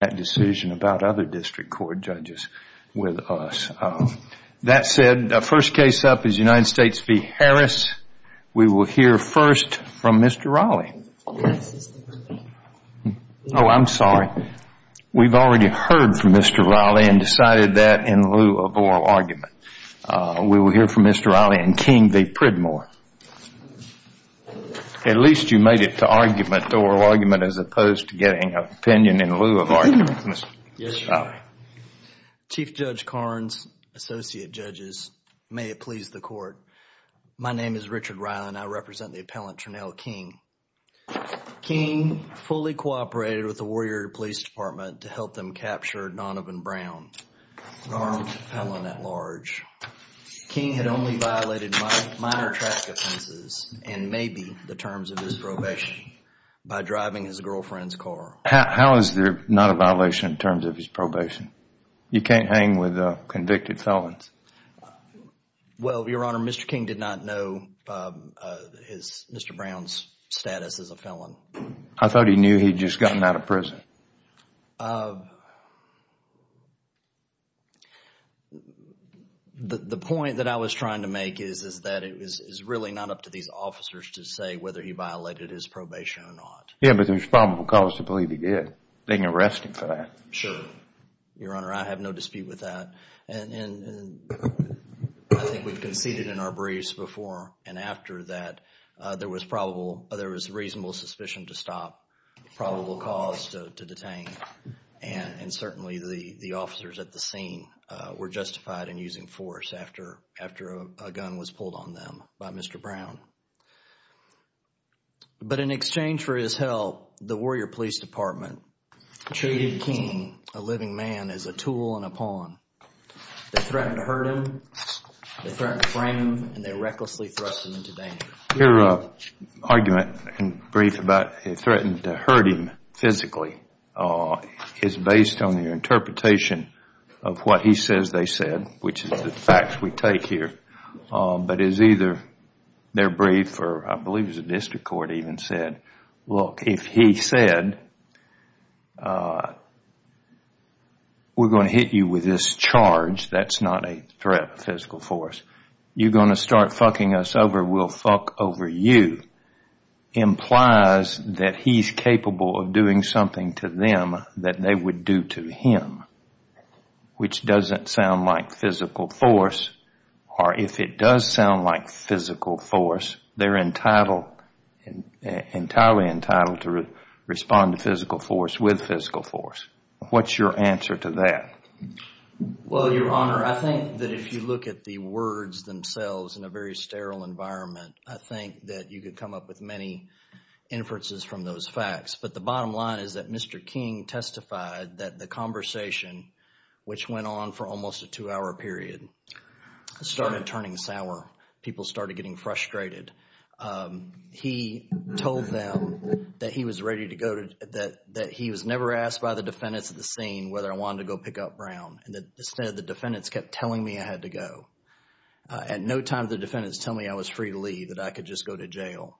that decision about other district court judges with us. That said, first case up is United States v. Harris. We will hear first from Mr. Raleigh. Oh, I'm sorry. We've already heard from Mr. Raleigh and decided that in lieu of oral argument. We will hear from Mr. Raleigh and King v. Pridmore. At least you made it to argument, the oral argument, as opposed to getting an opinion in lieu of argument. Chief Judge Karnes, Associate Judges, may it please the court. My name is Richard Ryle and I represent the appellant Trinell King. King fully cooperated with the Warrior Police Department to help them capture Donovan Brown, an armed appellant at large. King had only violated minor traffic offenses and maybe the terms of his probation by driving his girlfriend's car. How is there not a violation in terms of his probation? You can't hang with convicted felons. Well, Your Honor, Mr. King did not know Mr. Brown's status as a felon. I thought he knew he'd just gotten out of prison. The point that I was trying to make is that it was really not up to these officers to say whether he violated his probation or not. Yeah, but there's probable cause to believe he did. They can arrest him for that. Sure. Your Honor, I have no dispute with that. I think we've conceded in our briefs before and after that there was probable, there was reasonable suspicion to stop, probable cause to detain. And certainly the officers at the scene were justified in using force after a gun was pulled on them by Mr. Brown. But in exchange for his help, the Warrior Police Department treated King, a living man, as a tool and a pawn. They threatened to hurt him. They threatened to frame him. And they recklessly thrust him into danger. Your argument in brief about they threatened to hurt him physically is based on your interpretation of what he says they said, which is the facts we take here. But as either their brief or I believe it was the district court even said, look, if he said, we're going to hit you with this charge, that's not a threat of physical force. You're going to start fucking us over, we'll fuck over you, implies that he's capable of doing something to them that they would do to him, which doesn't sound like physical force. Or if it does sound like physical force, they're entirely entitled to respond to physical force with physical force. What's your answer to that? Well, Your Honor, I think that if you look at the words themselves in a very sterile environment, I think that you could come up with many inferences from those facts. But the bottom line is that Mr. King testified that the conversation, which went on for almost a two-hour period, started turning sour. People started getting frustrated. He told them that he was never asked by the defendants at the scene whether I wanted to go pick up Brown. Instead, the defendants kept telling me I had to go. At no time did the defendants tell me I was free to leave, that I could just go to jail.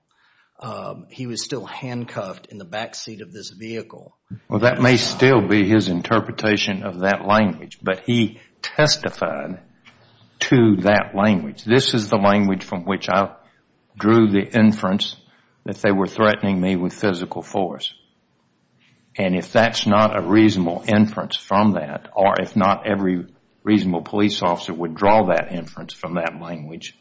He was still handcuffed in the backseat of this vehicle. Well, that may still be his interpretation of that language, but he testified to that language. This is the language from which I drew the inference that they were threatening me with physical force. And if that's not a reasonable inference from that, or if not every reasonable police officer would draw that inference from that language,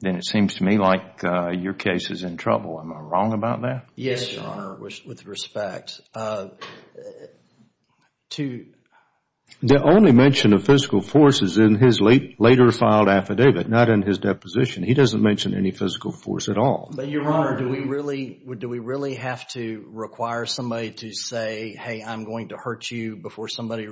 then it seems to me like your case is in trouble. Am I wrong about that? Yes, Your Honor, with respect. The only mention of physical force is in his later filed affidavit, not in his deposition. He doesn't mention any physical force at all. But, Your Honor, do we really have to require somebody to say, hey, I'm going to hurt you before somebody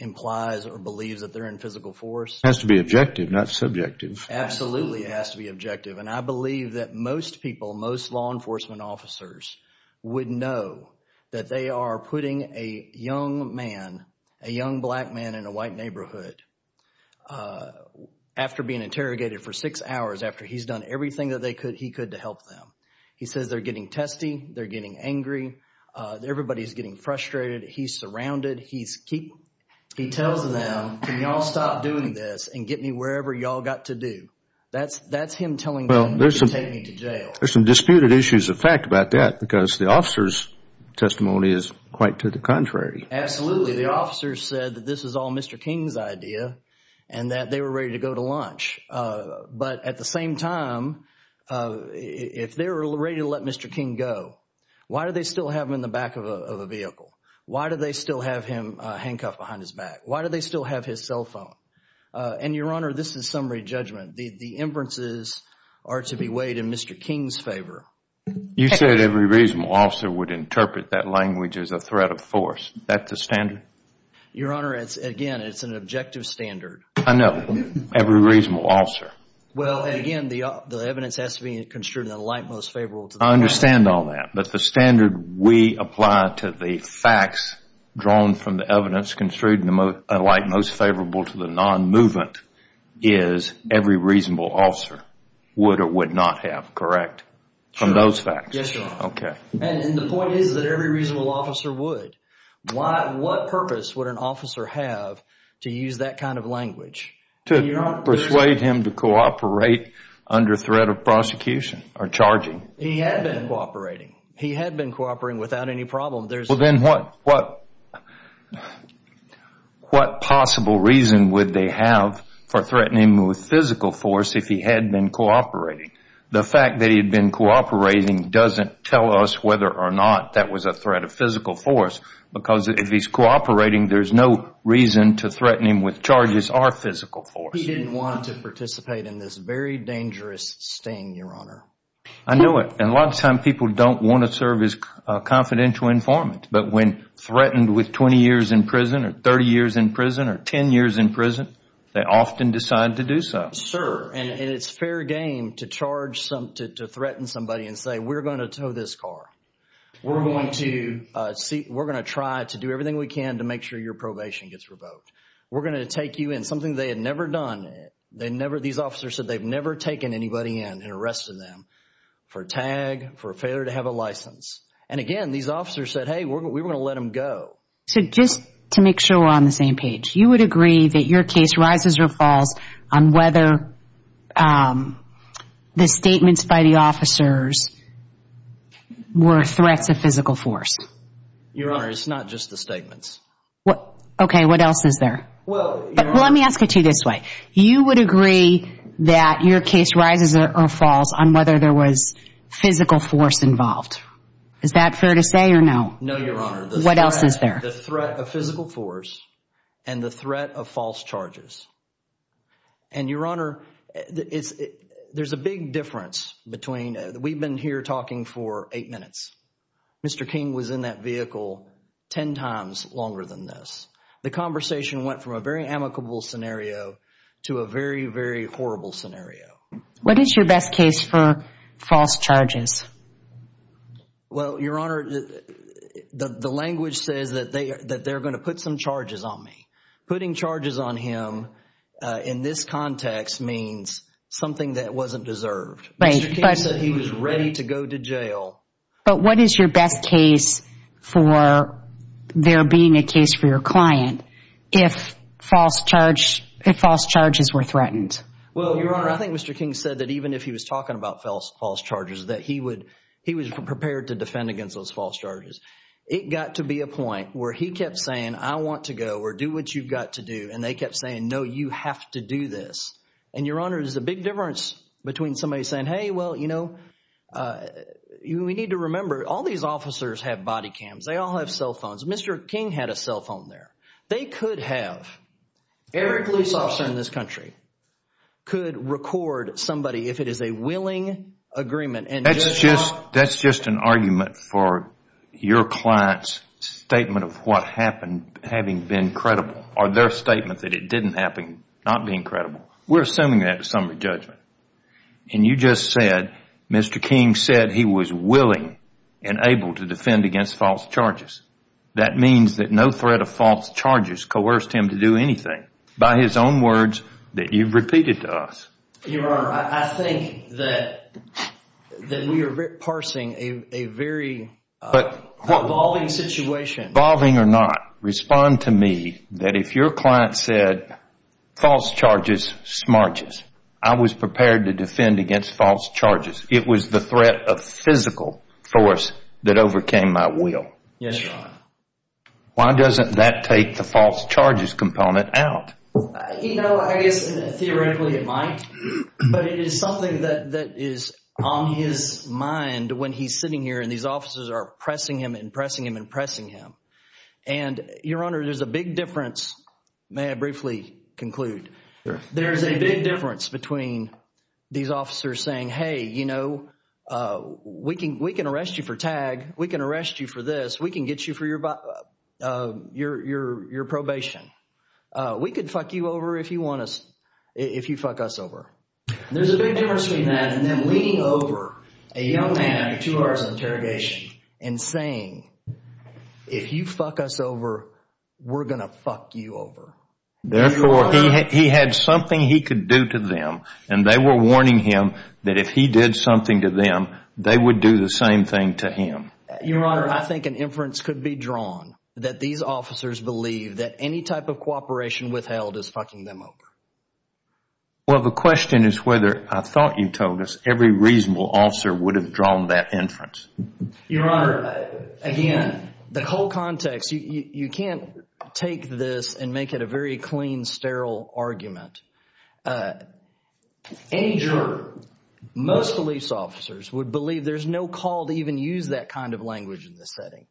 implies or believes that they're in physical force? It has to be objective, not subjective. Absolutely, it has to be objective. And I believe that most people, most law enforcement officers, would know that they are putting a young man, a young black man in a white neighborhood, after being interrogated for six hours after he's done everything that he could to help them. He says they're getting testy, they're getting angry, everybody's getting frustrated. He's surrounded. He tells them, can y'all stop doing this and get me wherever y'all got to do? That's him telling them, you can take me to jail. There's some disputed issues of fact about that because the officer's testimony is quite to the contrary. Absolutely. The officer said that this is all Mr. King's idea and that they were ready to go to lunch. But at the same time, if they were ready to let Mr. King go, why do they still have him in the back of a vehicle? Why do they still have him handcuffed behind his back? Why do they still have his cell phone? Your Honor, this is summary judgment. The inferences are to be weighed in Mr. King's favor. You said every reasonable officer would interpret that language as a threat of force. That's the standard? Your Honor, again, it's an objective standard. I know. Every reasonable officer. Well, and again, the evidence has to be construed in the light most favorable to the non-movement. I understand all that. But the standard we apply to the facts drawn from the evidence construed in the light most movement is every reasonable officer would or would not have, correct? From those facts? Yes, Your Honor. Okay. And the point is that every reasonable officer would. What purpose would an officer have to use that kind of language? To persuade him to cooperate under threat of prosecution or charging. He had been cooperating. He had been cooperating without any problem. Well, then what? Well, what possible reason would they have for threatening him with physical force if he had been cooperating? The fact that he had been cooperating doesn't tell us whether or not that was a threat of physical force because if he's cooperating, there's no reason to threaten him with charges or physical force. He didn't want to participate in this very dangerous sting, Your Honor. I know it. And a lot of times people don't want to serve as confidential informant. But when threatened with 20 years in prison or 30 years in prison or 10 years in prison, they often decide to do so. Sir, and it's fair game to charge somebody, to threaten somebody and say, we're going to tow this car. We're going to try to do everything we can to make sure your probation gets revoked. We're going to take you in. Something they had never done. These officers said they've never taken anybody in and arrested them for tag, for failure to have a license. And again, these officers said, hey, we're going to let them go. So just to make sure we're on the same page, you would agree that your case rises or falls on whether the statements by the officers were threats of physical force? Your Honor, it's not just the statements. Okay, what else is there? Well, let me ask it to you this way. You would agree that your case rises or falls on whether there was physical force involved? Is that fair to say or no? No, Your Honor. What else is there? The threat of physical force and the threat of false charges. And Your Honor, there's a big difference between, we've been here talking for eight minutes. Mr. King was in that vehicle 10 times longer than this. The conversation went from a very amicable scenario to a very, very horrible scenario. What is your best case for false charges? Well, Your Honor, the language says that they're going to put some charges on me. Putting charges on him in this context means something that wasn't deserved. Mr. King said he was ready to go to jail. But what is your best case for there being a case for your client if false charges were threatened? Well, Your Honor, I think Mr. King said that even if he was talking about false charges, that he was prepared to defend against those false charges. It got to be a point where he kept saying, I want to go, or do what you've got to do, and they kept saying, no, you have to do this. And Your Honor, there's a big difference between somebody saying, hey, well, you know, we need to remember, all these officers have body cams, they all have cell phones. Mr. King had a cell phone there. They could have, every police officer in this country could record somebody if it is a willing agreement and just not... That's just an argument for your client's statement of what happened having been credible or their statement that it didn't happen not being credible. We're assuming that to some of the judgment. And you just said, Mr. King said he was willing and able to defend against false charges. That means that no threat of false charges coerced him to do anything. By his own words that you've repeated to us. Your Honor, I think that we are parsing a very evolving situation. Evolving or not, respond to me that if your client said, false charges, smarges, I was prepared to defend against false charges. It was the threat of physical force that overcame my will. Yes, Your Honor. Why doesn't that take the false charges component out? You know, I guess theoretically it might. But it is something that is on his mind when he's sitting here and these officers are pressing him and pressing him and pressing him. And Your Honor, there's a big difference. May I briefly conclude? There is a big difference between these officers saying, hey, you know, we can arrest you for this. We can get you for your probation. We could fuck you over if you want us, if you fuck us over. There's a big difference between that and them leaning over a young man after two hours of interrogation and saying, if you fuck us over, we're going to fuck you over. Therefore, he had something he could do to them and they were warning him that if he did something to them, they would do the same thing to him. Your Honor, I think an inference could be drawn that these officers believe that any type of cooperation withheld is fucking them over. Well, the question is whether I thought you told us every reasonable officer would have drawn that inference. Your Honor, again, the whole context. You can't take this and make it a very clean, sterile argument. Any juror, most police officers would believe there's no call to even use that kind of language in this setting.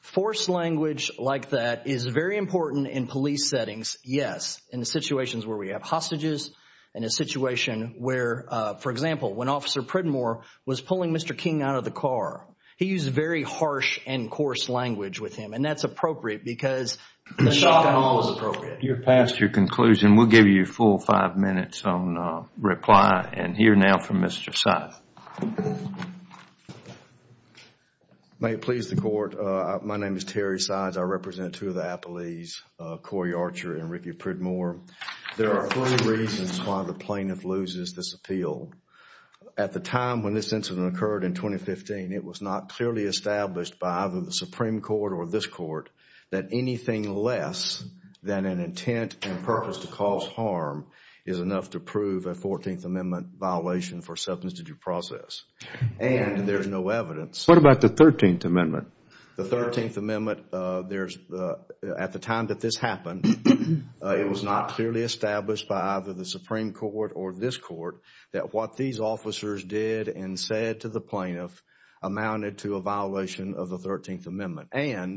Forced language like that is very important in police settings, yes, in the situations where we have hostages, in a situation where, for example, when Officer Pridmore was pulling Mr. King out of the car, he used very harsh and coarse language with him and that's appropriate because the shock and awe is appropriate. You've passed your conclusion. We'll give you a full five minutes on reply and hear now from Mr. Sides. May it please the Court. My name is Terry Sides. I represent two of the appellees, Corey Archer and Ricky Pridmore. There are three reasons why the plaintiff loses this appeal. At the time when this incident occurred in 2015, it was not clearly established by either the Supreme Court or this Court that anything less than an intent and purpose to cause harm is enough to prove a Fourteenth Amendment violation for substance abuse process and there's no evidence. What about the Thirteenth Amendment? The Thirteenth Amendment, at the time that this happened, it was not clearly established by either the Supreme Court or this Court that what these officers did and said to the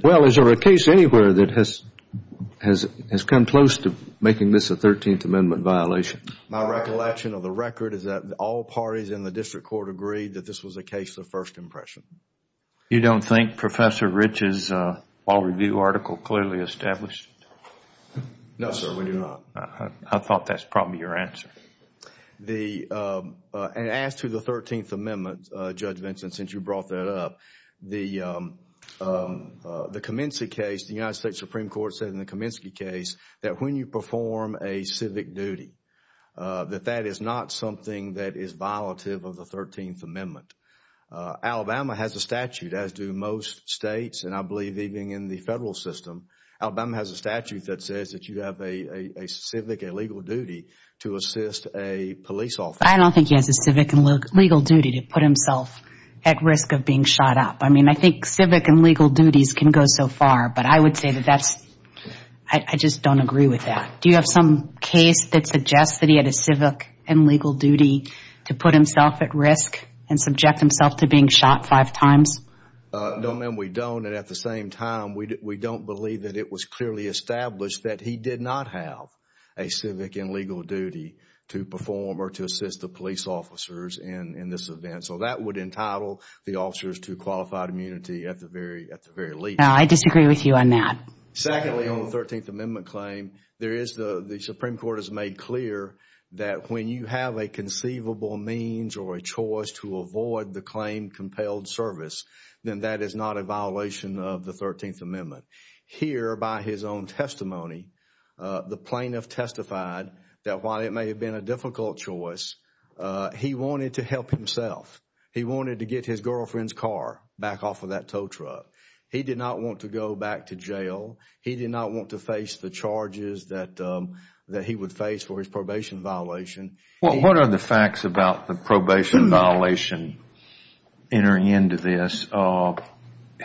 Well, is there a case anywhere that has come close to making this a Thirteenth Amendment violation? My recollection of the record is that all parties in the District Court agreed that this was a case of first impression. You don't think Professor Rich's law review article clearly established? No, sir, we do not. I thought that's probably your answer. As to the Thirteenth Amendment, Judge Vinson, since you brought that up, the Kaminsky case, the United States Supreme Court said in the Kaminsky case that when you perform a civic duty that that is not something that is violative of the Thirteenth Amendment. Alabama has a statute, as do most states and I believe even in the federal system, Alabama has a statute that says that you have a civic and legal duty to assist a police officer. I don't think he has a civic and legal duty to put himself at risk of being shot up. I mean, I think civic and legal duties can go so far but I would say that that's, I just don't agree with that. Do you have some case that suggests that he had a civic and legal duty to put himself at risk and subject himself to being shot five times? No, ma'am, we don't and at the same time, we don't believe that it was clearly established that he did not have a civic and legal duty to perform or to assist the police officers in this event. So that would entitle the officers to qualified immunity at the very least. I disagree with you on that. Secondly, on the Thirteenth Amendment claim, there is, the Supreme Court has made clear that when you have a conceivable means or a choice to avoid the claim compelled service, then that is not a violation of the Thirteenth Amendment. Here, by his own testimony, the plaintiff testified that while it may have been a difficult choice, he wanted to help himself. He wanted to get his girlfriend's car back off of that tow truck. He did not want to go back to jail. He did not want to face the charges that he would face for his probation violation. What are the facts about the probation violation entering into this?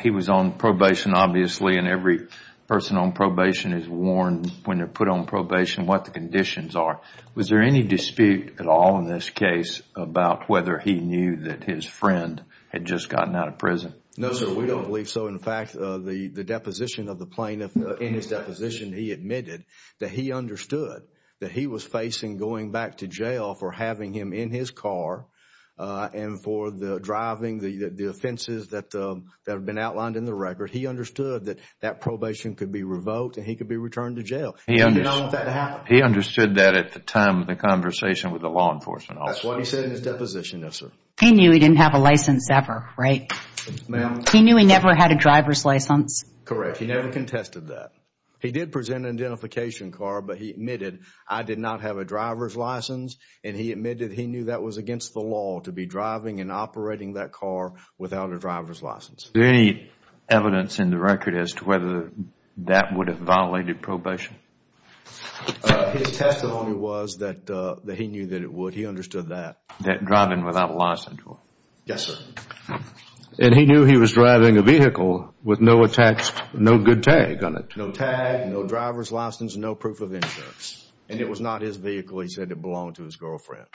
He was on probation, obviously, and every person on probation is warned when they're put on probation what the conditions are. Was there any dispute at all in this case about whether he knew that his friend had just gotten out of prison? No, sir. We don't believe so. In fact, the deposition of the plaintiff, in his deposition, he admitted that he understood that he was facing going back to jail for having him in his car and for the driving, the offenses that have been outlined in the record. He understood that that probation could be revoked and he could be returned to jail. He did not want that to happen. He understood that at the time of the conversation with the law enforcement officer. That's what he said in his deposition, yes, sir. He knew he didn't have a license ever, right? Ma'am? He knew he never had a driver's license? Correct. He never contested that. He did present an identification card, but he admitted, I did not have a driver's license, and he admitted he knew that was against the law to be driving and operating that car without a driver's license. Is there any evidence in the record as to whether that would have violated probation? His testimony was that he knew that it would. He understood that. That driving without a license would. Yes, sir. And he knew he was driving a vehicle with no attached, no good tag on it? No tag, no driver's license, no proof of insurance, and it was not his vehicle. He said it belonged to his girlfriend.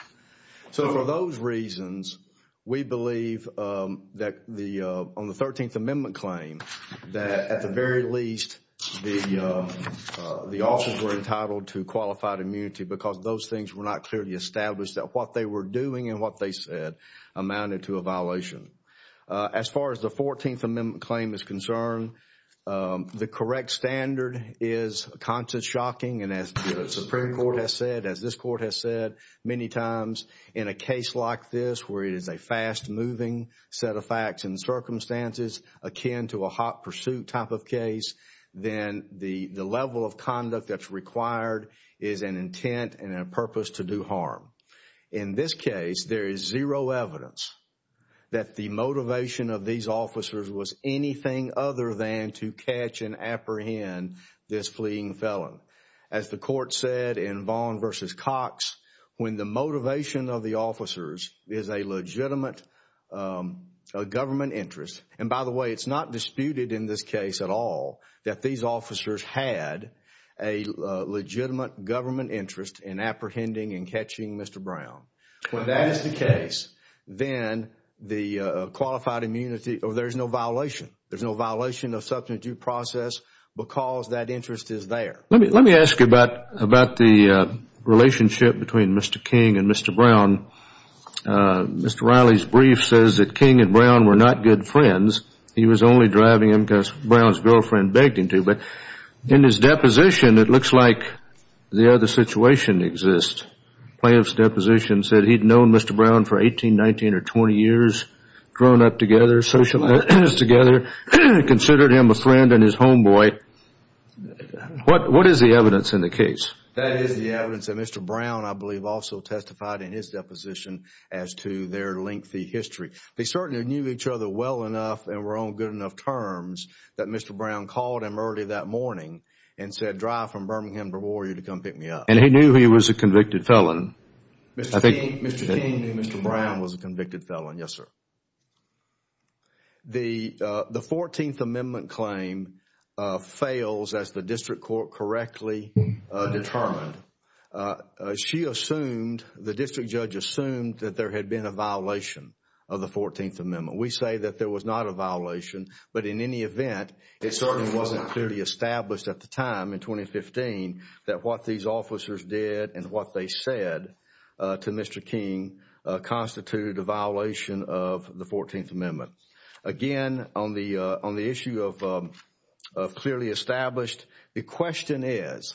So for those reasons, we believe that the, on the 13th Amendment claim, that at the very least the officers were entitled to qualified immunity because those things were not clearly established that what they were doing and what they said amounted to a violation. As far as the 14th Amendment claim is concerned, the correct standard is conscious shocking and as the Supreme Court has said, as this court has said many times in a case like this where it is a fast moving set of facts and circumstances akin to a hot pursuit type of In this case, there is zero evidence that the motivation of these officers was anything other than to catch and apprehend this fleeing felon. As the court said in Vaughn v. Cox, when the motivation of the officers is a legitimate government interest, and by the way, it's not disputed in this case at all that these When that is the case, then the qualified immunity, there's no violation. There's no violation of substance use process because that interest is there. Let me ask you about the relationship between Mr. King and Mr. Brown. Mr. Riley's brief says that King and Brown were not good friends. He was only driving him because Brown's girlfriend begged him to, but in his deposition, it looks like the other situation exists. Plaintiff's deposition said he'd known Mr. Brown for 18, 19, or 20 years, grown up together, socialized together, considered him a friend and his homeboy. What is the evidence in the case? That is the evidence that Mr. Brown, I believe, also testified in his deposition as to their lengthy history. They certainly knew each other well enough and were on good enough terms that Mr. Brown called him early that morning and said, drive from Birmingham, Brevard, to come pick me up. And he knew he was a convicted felon? Mr. King knew Mr. Brown was a convicted felon, yes, sir. The 14th Amendment claim fails as the district court correctly determined. She assumed, the district judge assumed, that there had been a violation of the 14th Amendment. We say that there was not a violation, but in any event, it certainly wasn't clearly established at the time in 2015 that what these officers did and what they said to Mr. King constituted a violation of the 14th Amendment. Again, on the issue of clearly established, the question is,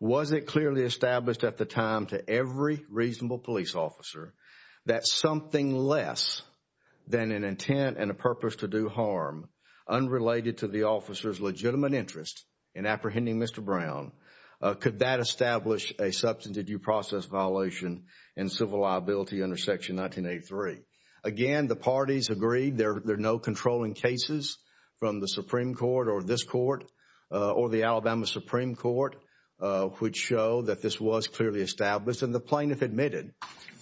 was it clearly established at the time to every reasonable police officer that something less than an intent and a purpose to do harm, unrelated to the officer's legitimate interest in apprehending Mr. Brown, could that establish a substantive due process violation and civil liability under Section 1983? Again, the parties agreed there are no controlling cases from the Supreme Court or this court or the Alabama Supreme Court, which show that this was clearly established, and the plaintiff admitted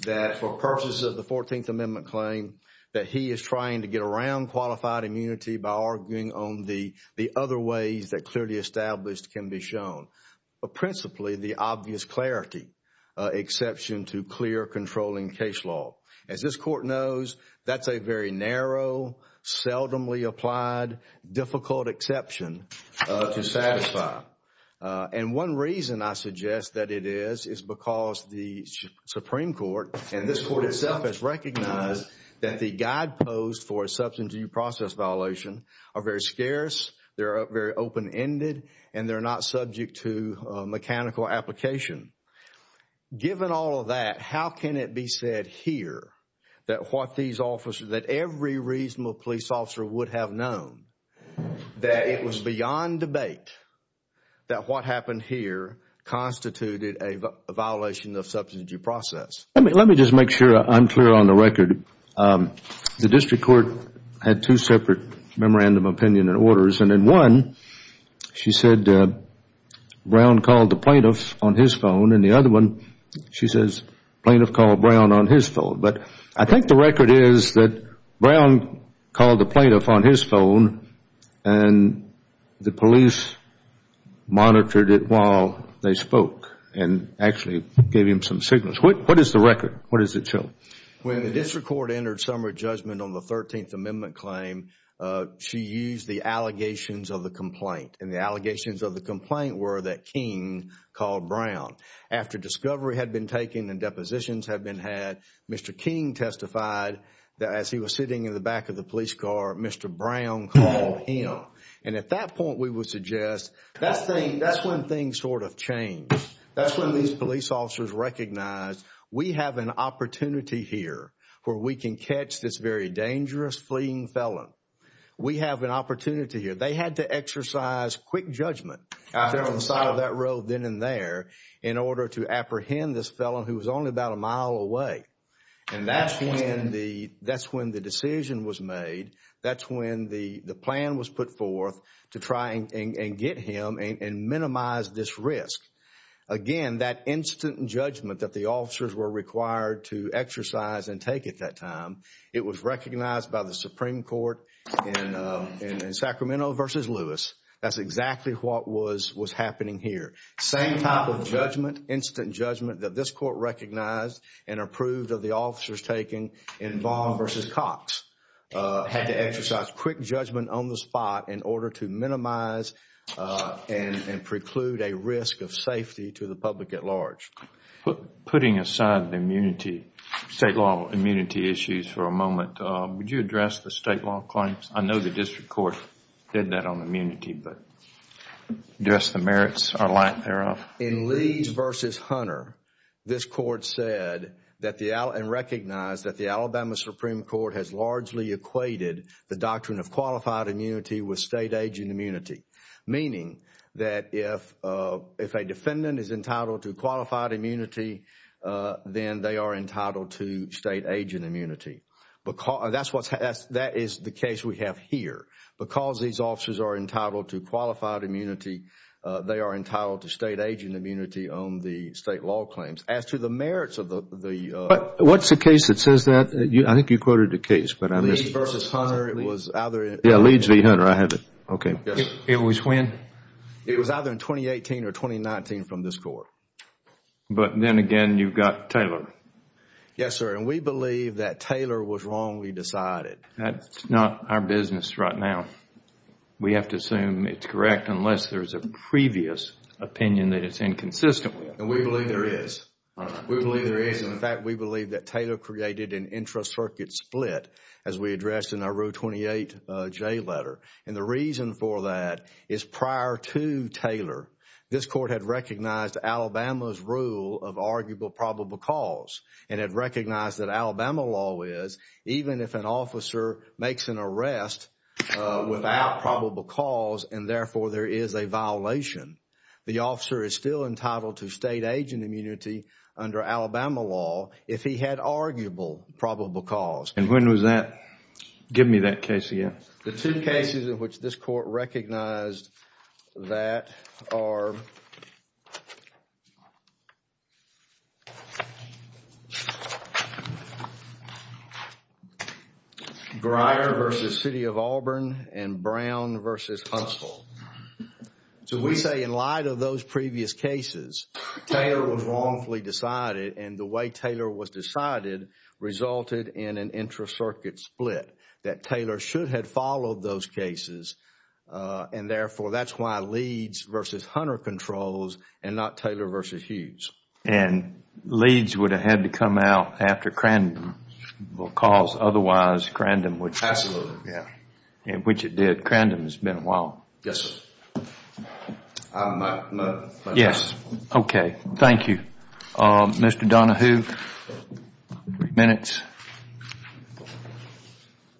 that for purposes of the 14th Amendment claim, that he is trying to get around qualified immunity by arguing on the other ways that clearly established can be shown, but principally the obvious clarity exception to clear controlling case law. As this court knows, that's a very narrow, seldomly applied, difficult exception to satisfy. And one reason I suggest that it is, is because the Supreme Court and this court itself has recognized that the guideposts for a substantive due process violation are very scarce, they're very open-ended, and they're not subject to mechanical application. Given all of that, how can it be said here that what these officers, that every reasonable police officer would have known, that it was beyond debate that what happened here constituted a violation of substantive due process? Let me just make sure I'm clear on the record. The district court had two separate memorandum opinion and orders, and in one, she said Brown called the plaintiff on his phone, and the other one, she says plaintiff called Brown on his phone. But I think the record is that Brown called the plaintiff on his phone, and the police monitored it while they spoke, and actually gave him some signals. What is the record? What does it show? When the district court entered summary judgment on the 13th Amendment claim, she used the Brown. After discovery had been taken and depositions had been had, Mr. King testified that as he was sitting in the back of the police car, Mr. Brown called him. And at that point, we would suggest that's when things sort of changed. That's when these police officers recognized we have an opportunity here where we can catch this very dangerous fleeing felon. We have an opportunity here. They had to exercise quick judgment on the side of that road then and there in order to apprehend this felon who was only about a mile away. And that's when the decision was made. That's when the plan was put forth to try and get him and minimize this risk. Again, that instant judgment that the officers were required to exercise and take at that That's exactly what was happening here. Same type of judgment, instant judgment, that this court recognized and approved of the officers taking in Vaughn v. Cox had to exercise quick judgment on the spot in order to minimize and preclude a risk of safety to the public at large. Putting aside the state law immunity issues for a moment, would you address the state law claims? I know the district court did that on immunity, but do you address the merits or lack thereof? In Leeds v. Hunter, this court said and recognized that the Alabama Supreme Court has largely equated the doctrine of qualified immunity with state agent immunity, meaning that if a defendant is entitled to qualified immunity, then they are entitled to state agent immunity. That is the case we have here. Because these officers are entitled to qualified immunity, they are entitled to state agent immunity on the state law claims. As to the merits of the What's the case that says that? I think you quoted the case, but I missed it. Leeds v. Hunter. It was either Yeah, Leeds v. Hunter. I have it. Okay. Yes. It was when? It was either in 2018 or 2019 from this court. But then again, you've got Taylor. Yes, sir. And we believe that Taylor was wrongly decided. That's not our business right now. We have to assume it's correct unless there's a previous opinion that it's inconsistent with. And we believe there is. All right. We believe there is. In fact, we believe that Taylor created an intra-circuit split, as we addressed in our Row 28 J letter. And the reason for that is prior to Taylor, this court had recognized Alabama's rule of that Alabama law is, even if an officer makes an arrest without probable cause, and therefore there is a violation. The officer is still entitled to state agent immunity under Alabama law if he had arguable probable cause. And when was that? Give me that case again. The two cases in which this court recognized that are Grier v. City of Auburn and Brown v. Huntsville. So we say in light of those previous cases, Taylor was wrongfully decided. And the way Taylor was decided resulted in an intra-circuit split that Taylor should have followed those cases. And therefore, that's why Leeds v. Hunter controls and not Taylor v. Hughes. And Leeds would have had to come out after Crandom because otherwise Crandom would have passed. Absolutely. Yeah. Which it did. Crandom has been a while. Yes, sir. Yes. Okay. Thank you. Mr. Donahue. Three minutes.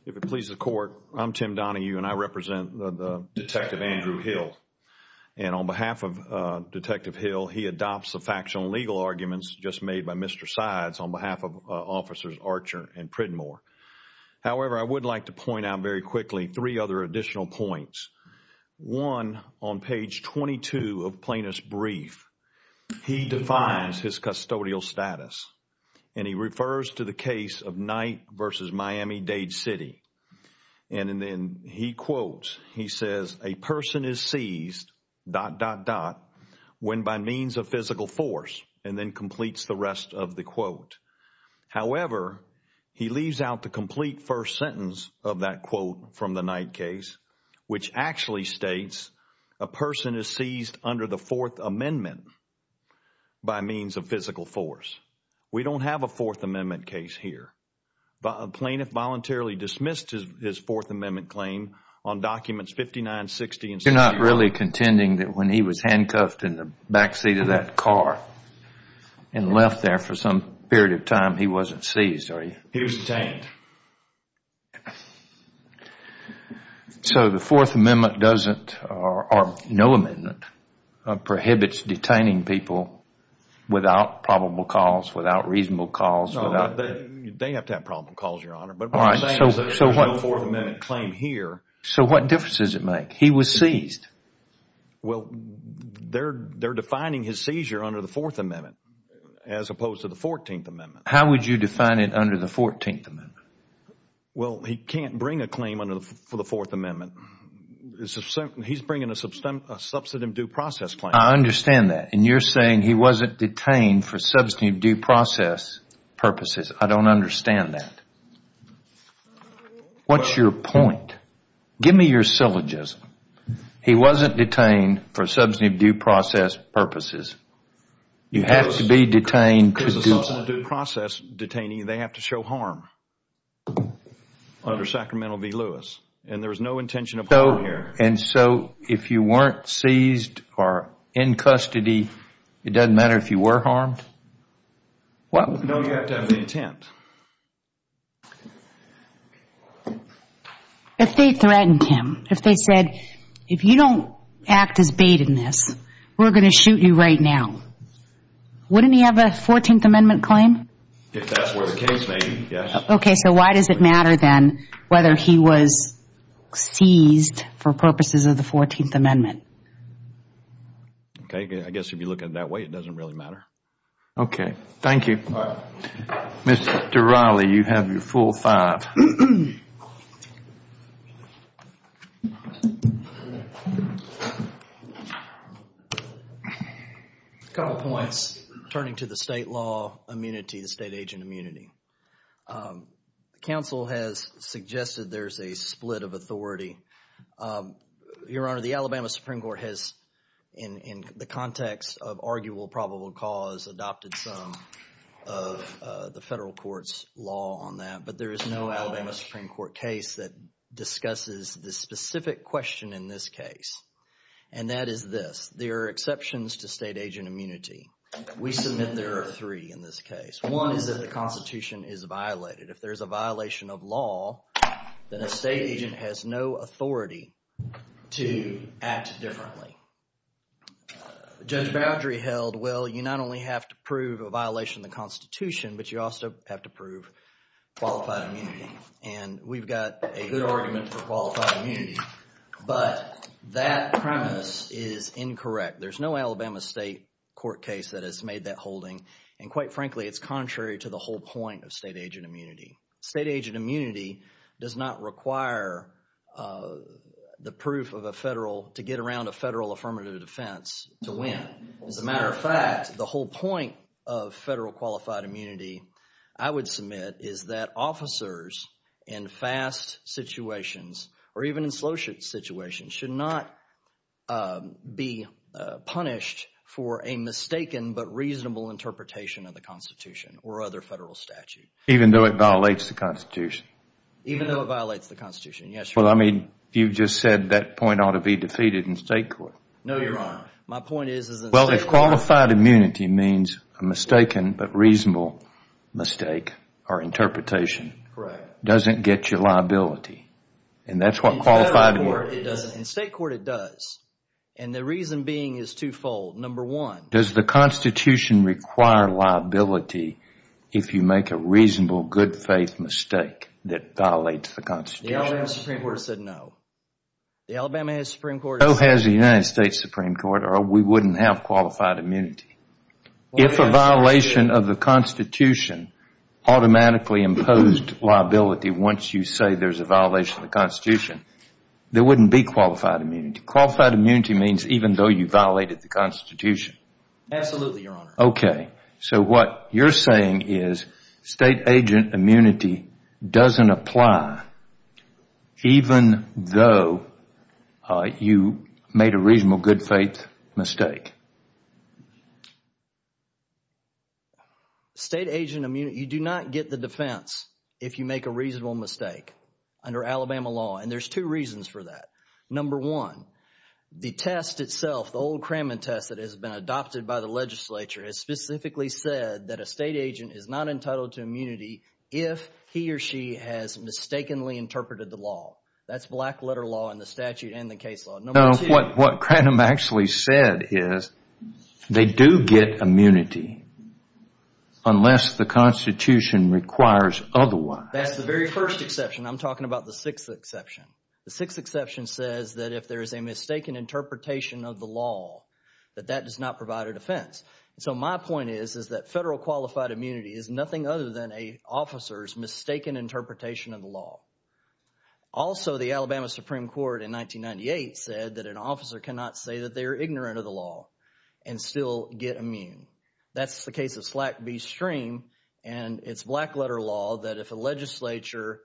If it pleases the court, I'm Tim Donahue and I represent Detective Andrew Hill. And on behalf of Detective Hill, he adopts the factional legal arguments just made by Mr. Sides on behalf of Officers Archer and Pridmore. However, I would like to point out very quickly three other additional points. One, on page 22 of Plaintiff's brief, he defines his custodial status and he refers to the case of Knight v. Miami-Dade City. And then he quotes, he says, a person is seized, dot, dot, dot, when by means of physical force and then completes the rest of the quote. However, he leaves out the complete first sentence of that quote from the Knight case which actually states a person is seized under the Fourth Amendment by means of physical force. We don't have a Fourth Amendment case here. A plaintiff voluntarily dismissed his Fourth Amendment claim on documents 5960 and 6901. You're not really contending that when he was handcuffed in the backseat of that car and left there for some period of time, he wasn't seized, are you? He was detained. So the Fourth Amendment doesn't, or no amendment, prohibits detaining people without probable cause, without reasonable cause, without? They have to have probable cause, Your Honor. But what I'm saying is there is no Fourth Amendment claim here. So what difference does it make? He was seized. Well, they're defining his seizure under the Fourth Amendment as opposed to the Fourteenth Amendment. How would you define it under the Fourteenth Amendment? Well, he can't bring a claim for the Fourth Amendment. He's bringing a substantive due process claim. I understand that. And you're saying he wasn't detained for substantive due process purposes. I don't understand that. What's your point? Give me your syllogism. He wasn't detained for substantive due process purposes. You have to be detained. If it's a substantive due process detainee, they have to show harm under Sacramento v. Lewis. And there's no intention of harm here. And so if you weren't seized or in custody, it doesn't matter if you were harmed? No, you have to have the intent. If they threatened him, if they said, if you don't act as bait in this, we're going to shoot you right now, wouldn't he have a Fourteenth Amendment claim? If that's where the case may be, yes. Okay, so why does it matter then whether he was seized for purposes of the Fourteenth Amendment? Okay, I guess if you look at it that way, it doesn't really matter. Okay. Thank you. All right. Mr. Raleigh, you have your full five. A couple points turning to the state law immunity, the state agent immunity. Counsel has suggested there's a split of authority. Your Honor, the Alabama Supreme Court has in the context of arguable probable cause adopted some of the federal courts law on that. But there is no Alabama Supreme Court case that discusses the specific question in this case. And that is this. There are exceptions to state agent immunity. We submit there are three in this case. One is that the Constitution is violated. If there's a violation of law, then a state agent has no authority to act differently. Judge Boudry held, well, you not only have to prove a violation of the Constitution, but you also have to prove qualified immunity. And we've got a good argument for qualified immunity. But that premise is incorrect. There's no Alabama state court case that has made that holding. And quite frankly, it's contrary to the whole point of state agent immunity. State agent immunity does not require the proof of a federal, to get around a federal affirmative defense to win. As a matter of fact, the whole point of federal qualified immunity, I would submit, is that officers in fast situations or even in slow situations should not be punished for a mistaken but reasonable interpretation of the Constitution or other federal statute. Even though it violates the Constitution? Even though it violates the Constitution, yes, Your Honor. Well, I mean, you just said that point ought to be defeated in state court. No, Your Honor. My point is, is that- Well, if qualified immunity means a mistaken but reasonable mistake or interpretation- Correct. Doesn't get you liability. And that's what qualified immunity- In federal court, it doesn't. In state court, it does. And the reason being is twofold. Number one- Does the Constitution require liability if you make a reasonable good faith mistake that violates the Constitution? The Alabama Supreme Court said no. The Alabama Supreme Court- No has the United States Supreme Court or we wouldn't have qualified immunity. If a violation of the Constitution automatically imposed liability once you say there's a violation of the Constitution, there wouldn't be qualified immunity. Qualified immunity means even though you violated the Constitution. Absolutely, Your Honor. Okay. So what you're saying is state agent immunity doesn't apply even though you made a reasonable good faith mistake. State agent immunity, you do not get the defense if you make a reasonable mistake under Alabama law. And there's two reasons for that. Number one, the test itself, the old Kremen test that has been adopted by the legislature has specifically said that a state agent is not entitled to immunity if he or she has mistakenly interpreted the law. That's black letter law in the statute and the case law. Number two- No, what Krenham actually said is they do get immunity unless the Constitution requires otherwise. That's the very first exception. I'm talking about the sixth exception. The sixth exception says that if there is a mistaken interpretation of the law, that that does not provide a defense. So my point is, is that federal qualified immunity is nothing other than an officer's mistaken interpretation of the law. Also, the Alabama Supreme Court in 1998 said that an officer cannot say that they are ignorant of the law and still get immune. That's the case of Slack v. Stream and it's black letter law that if a legislature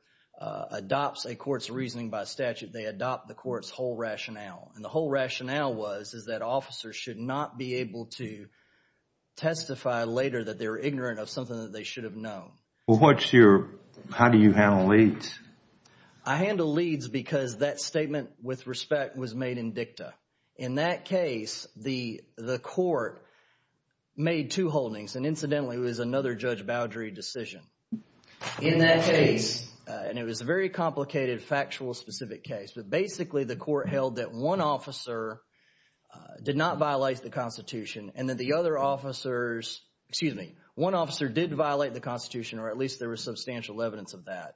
adopts a court's reasoning by statute, they adopt the court's whole rationale. The whole rationale was, is that officers should not be able to testify later that they were ignorant of something that they should have known. How do you handle leads? I handle leads because that statement with respect was made in dicta. In that case, the court made two holdings and incidentally, it was another Judge Boudry decision. In that case- In that case, and it was a very complicated factual specific case, but basically the court held that one officer did not violate the Constitution and that the other officers, excuse me, one officer did violate the Constitution or at least there was substantial evidence of that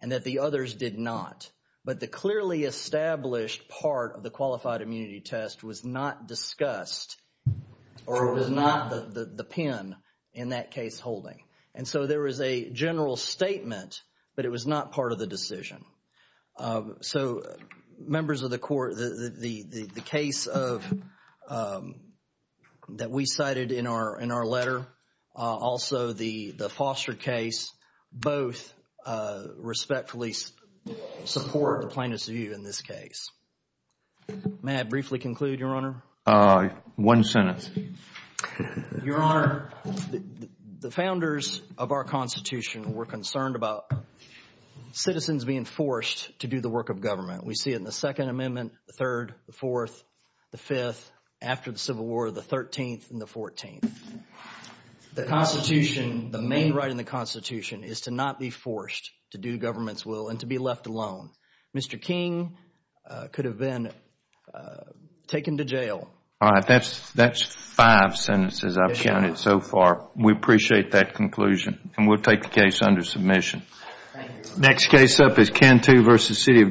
and that the others did not. But the clearly established part of the qualified immunity test was not discussed or was not the pin in that case holding. And so there was a general statement, but it was not part of the decision. So, members of the court, the case that we cited in our letter, also the Foster case, both respectfully support the plaintiff's view in this case. May I briefly conclude, Your Honor? One sentence. Your Honor, the founders of our Constitution were concerned about citizens being forced to do the work of government. We see it in the Second Amendment, the third, the fourth, the fifth, after the Civil War, the thirteenth, and the fourteenth. The Constitution, the main right in the Constitution is to not be forced to do government's will and to be left alone. Mr. King could have been taken to jail- All right, that's five sentences I've counted so far. We appreciate that conclusion and we'll take the case under submission. Next case up is Cantu v. City of Dothan.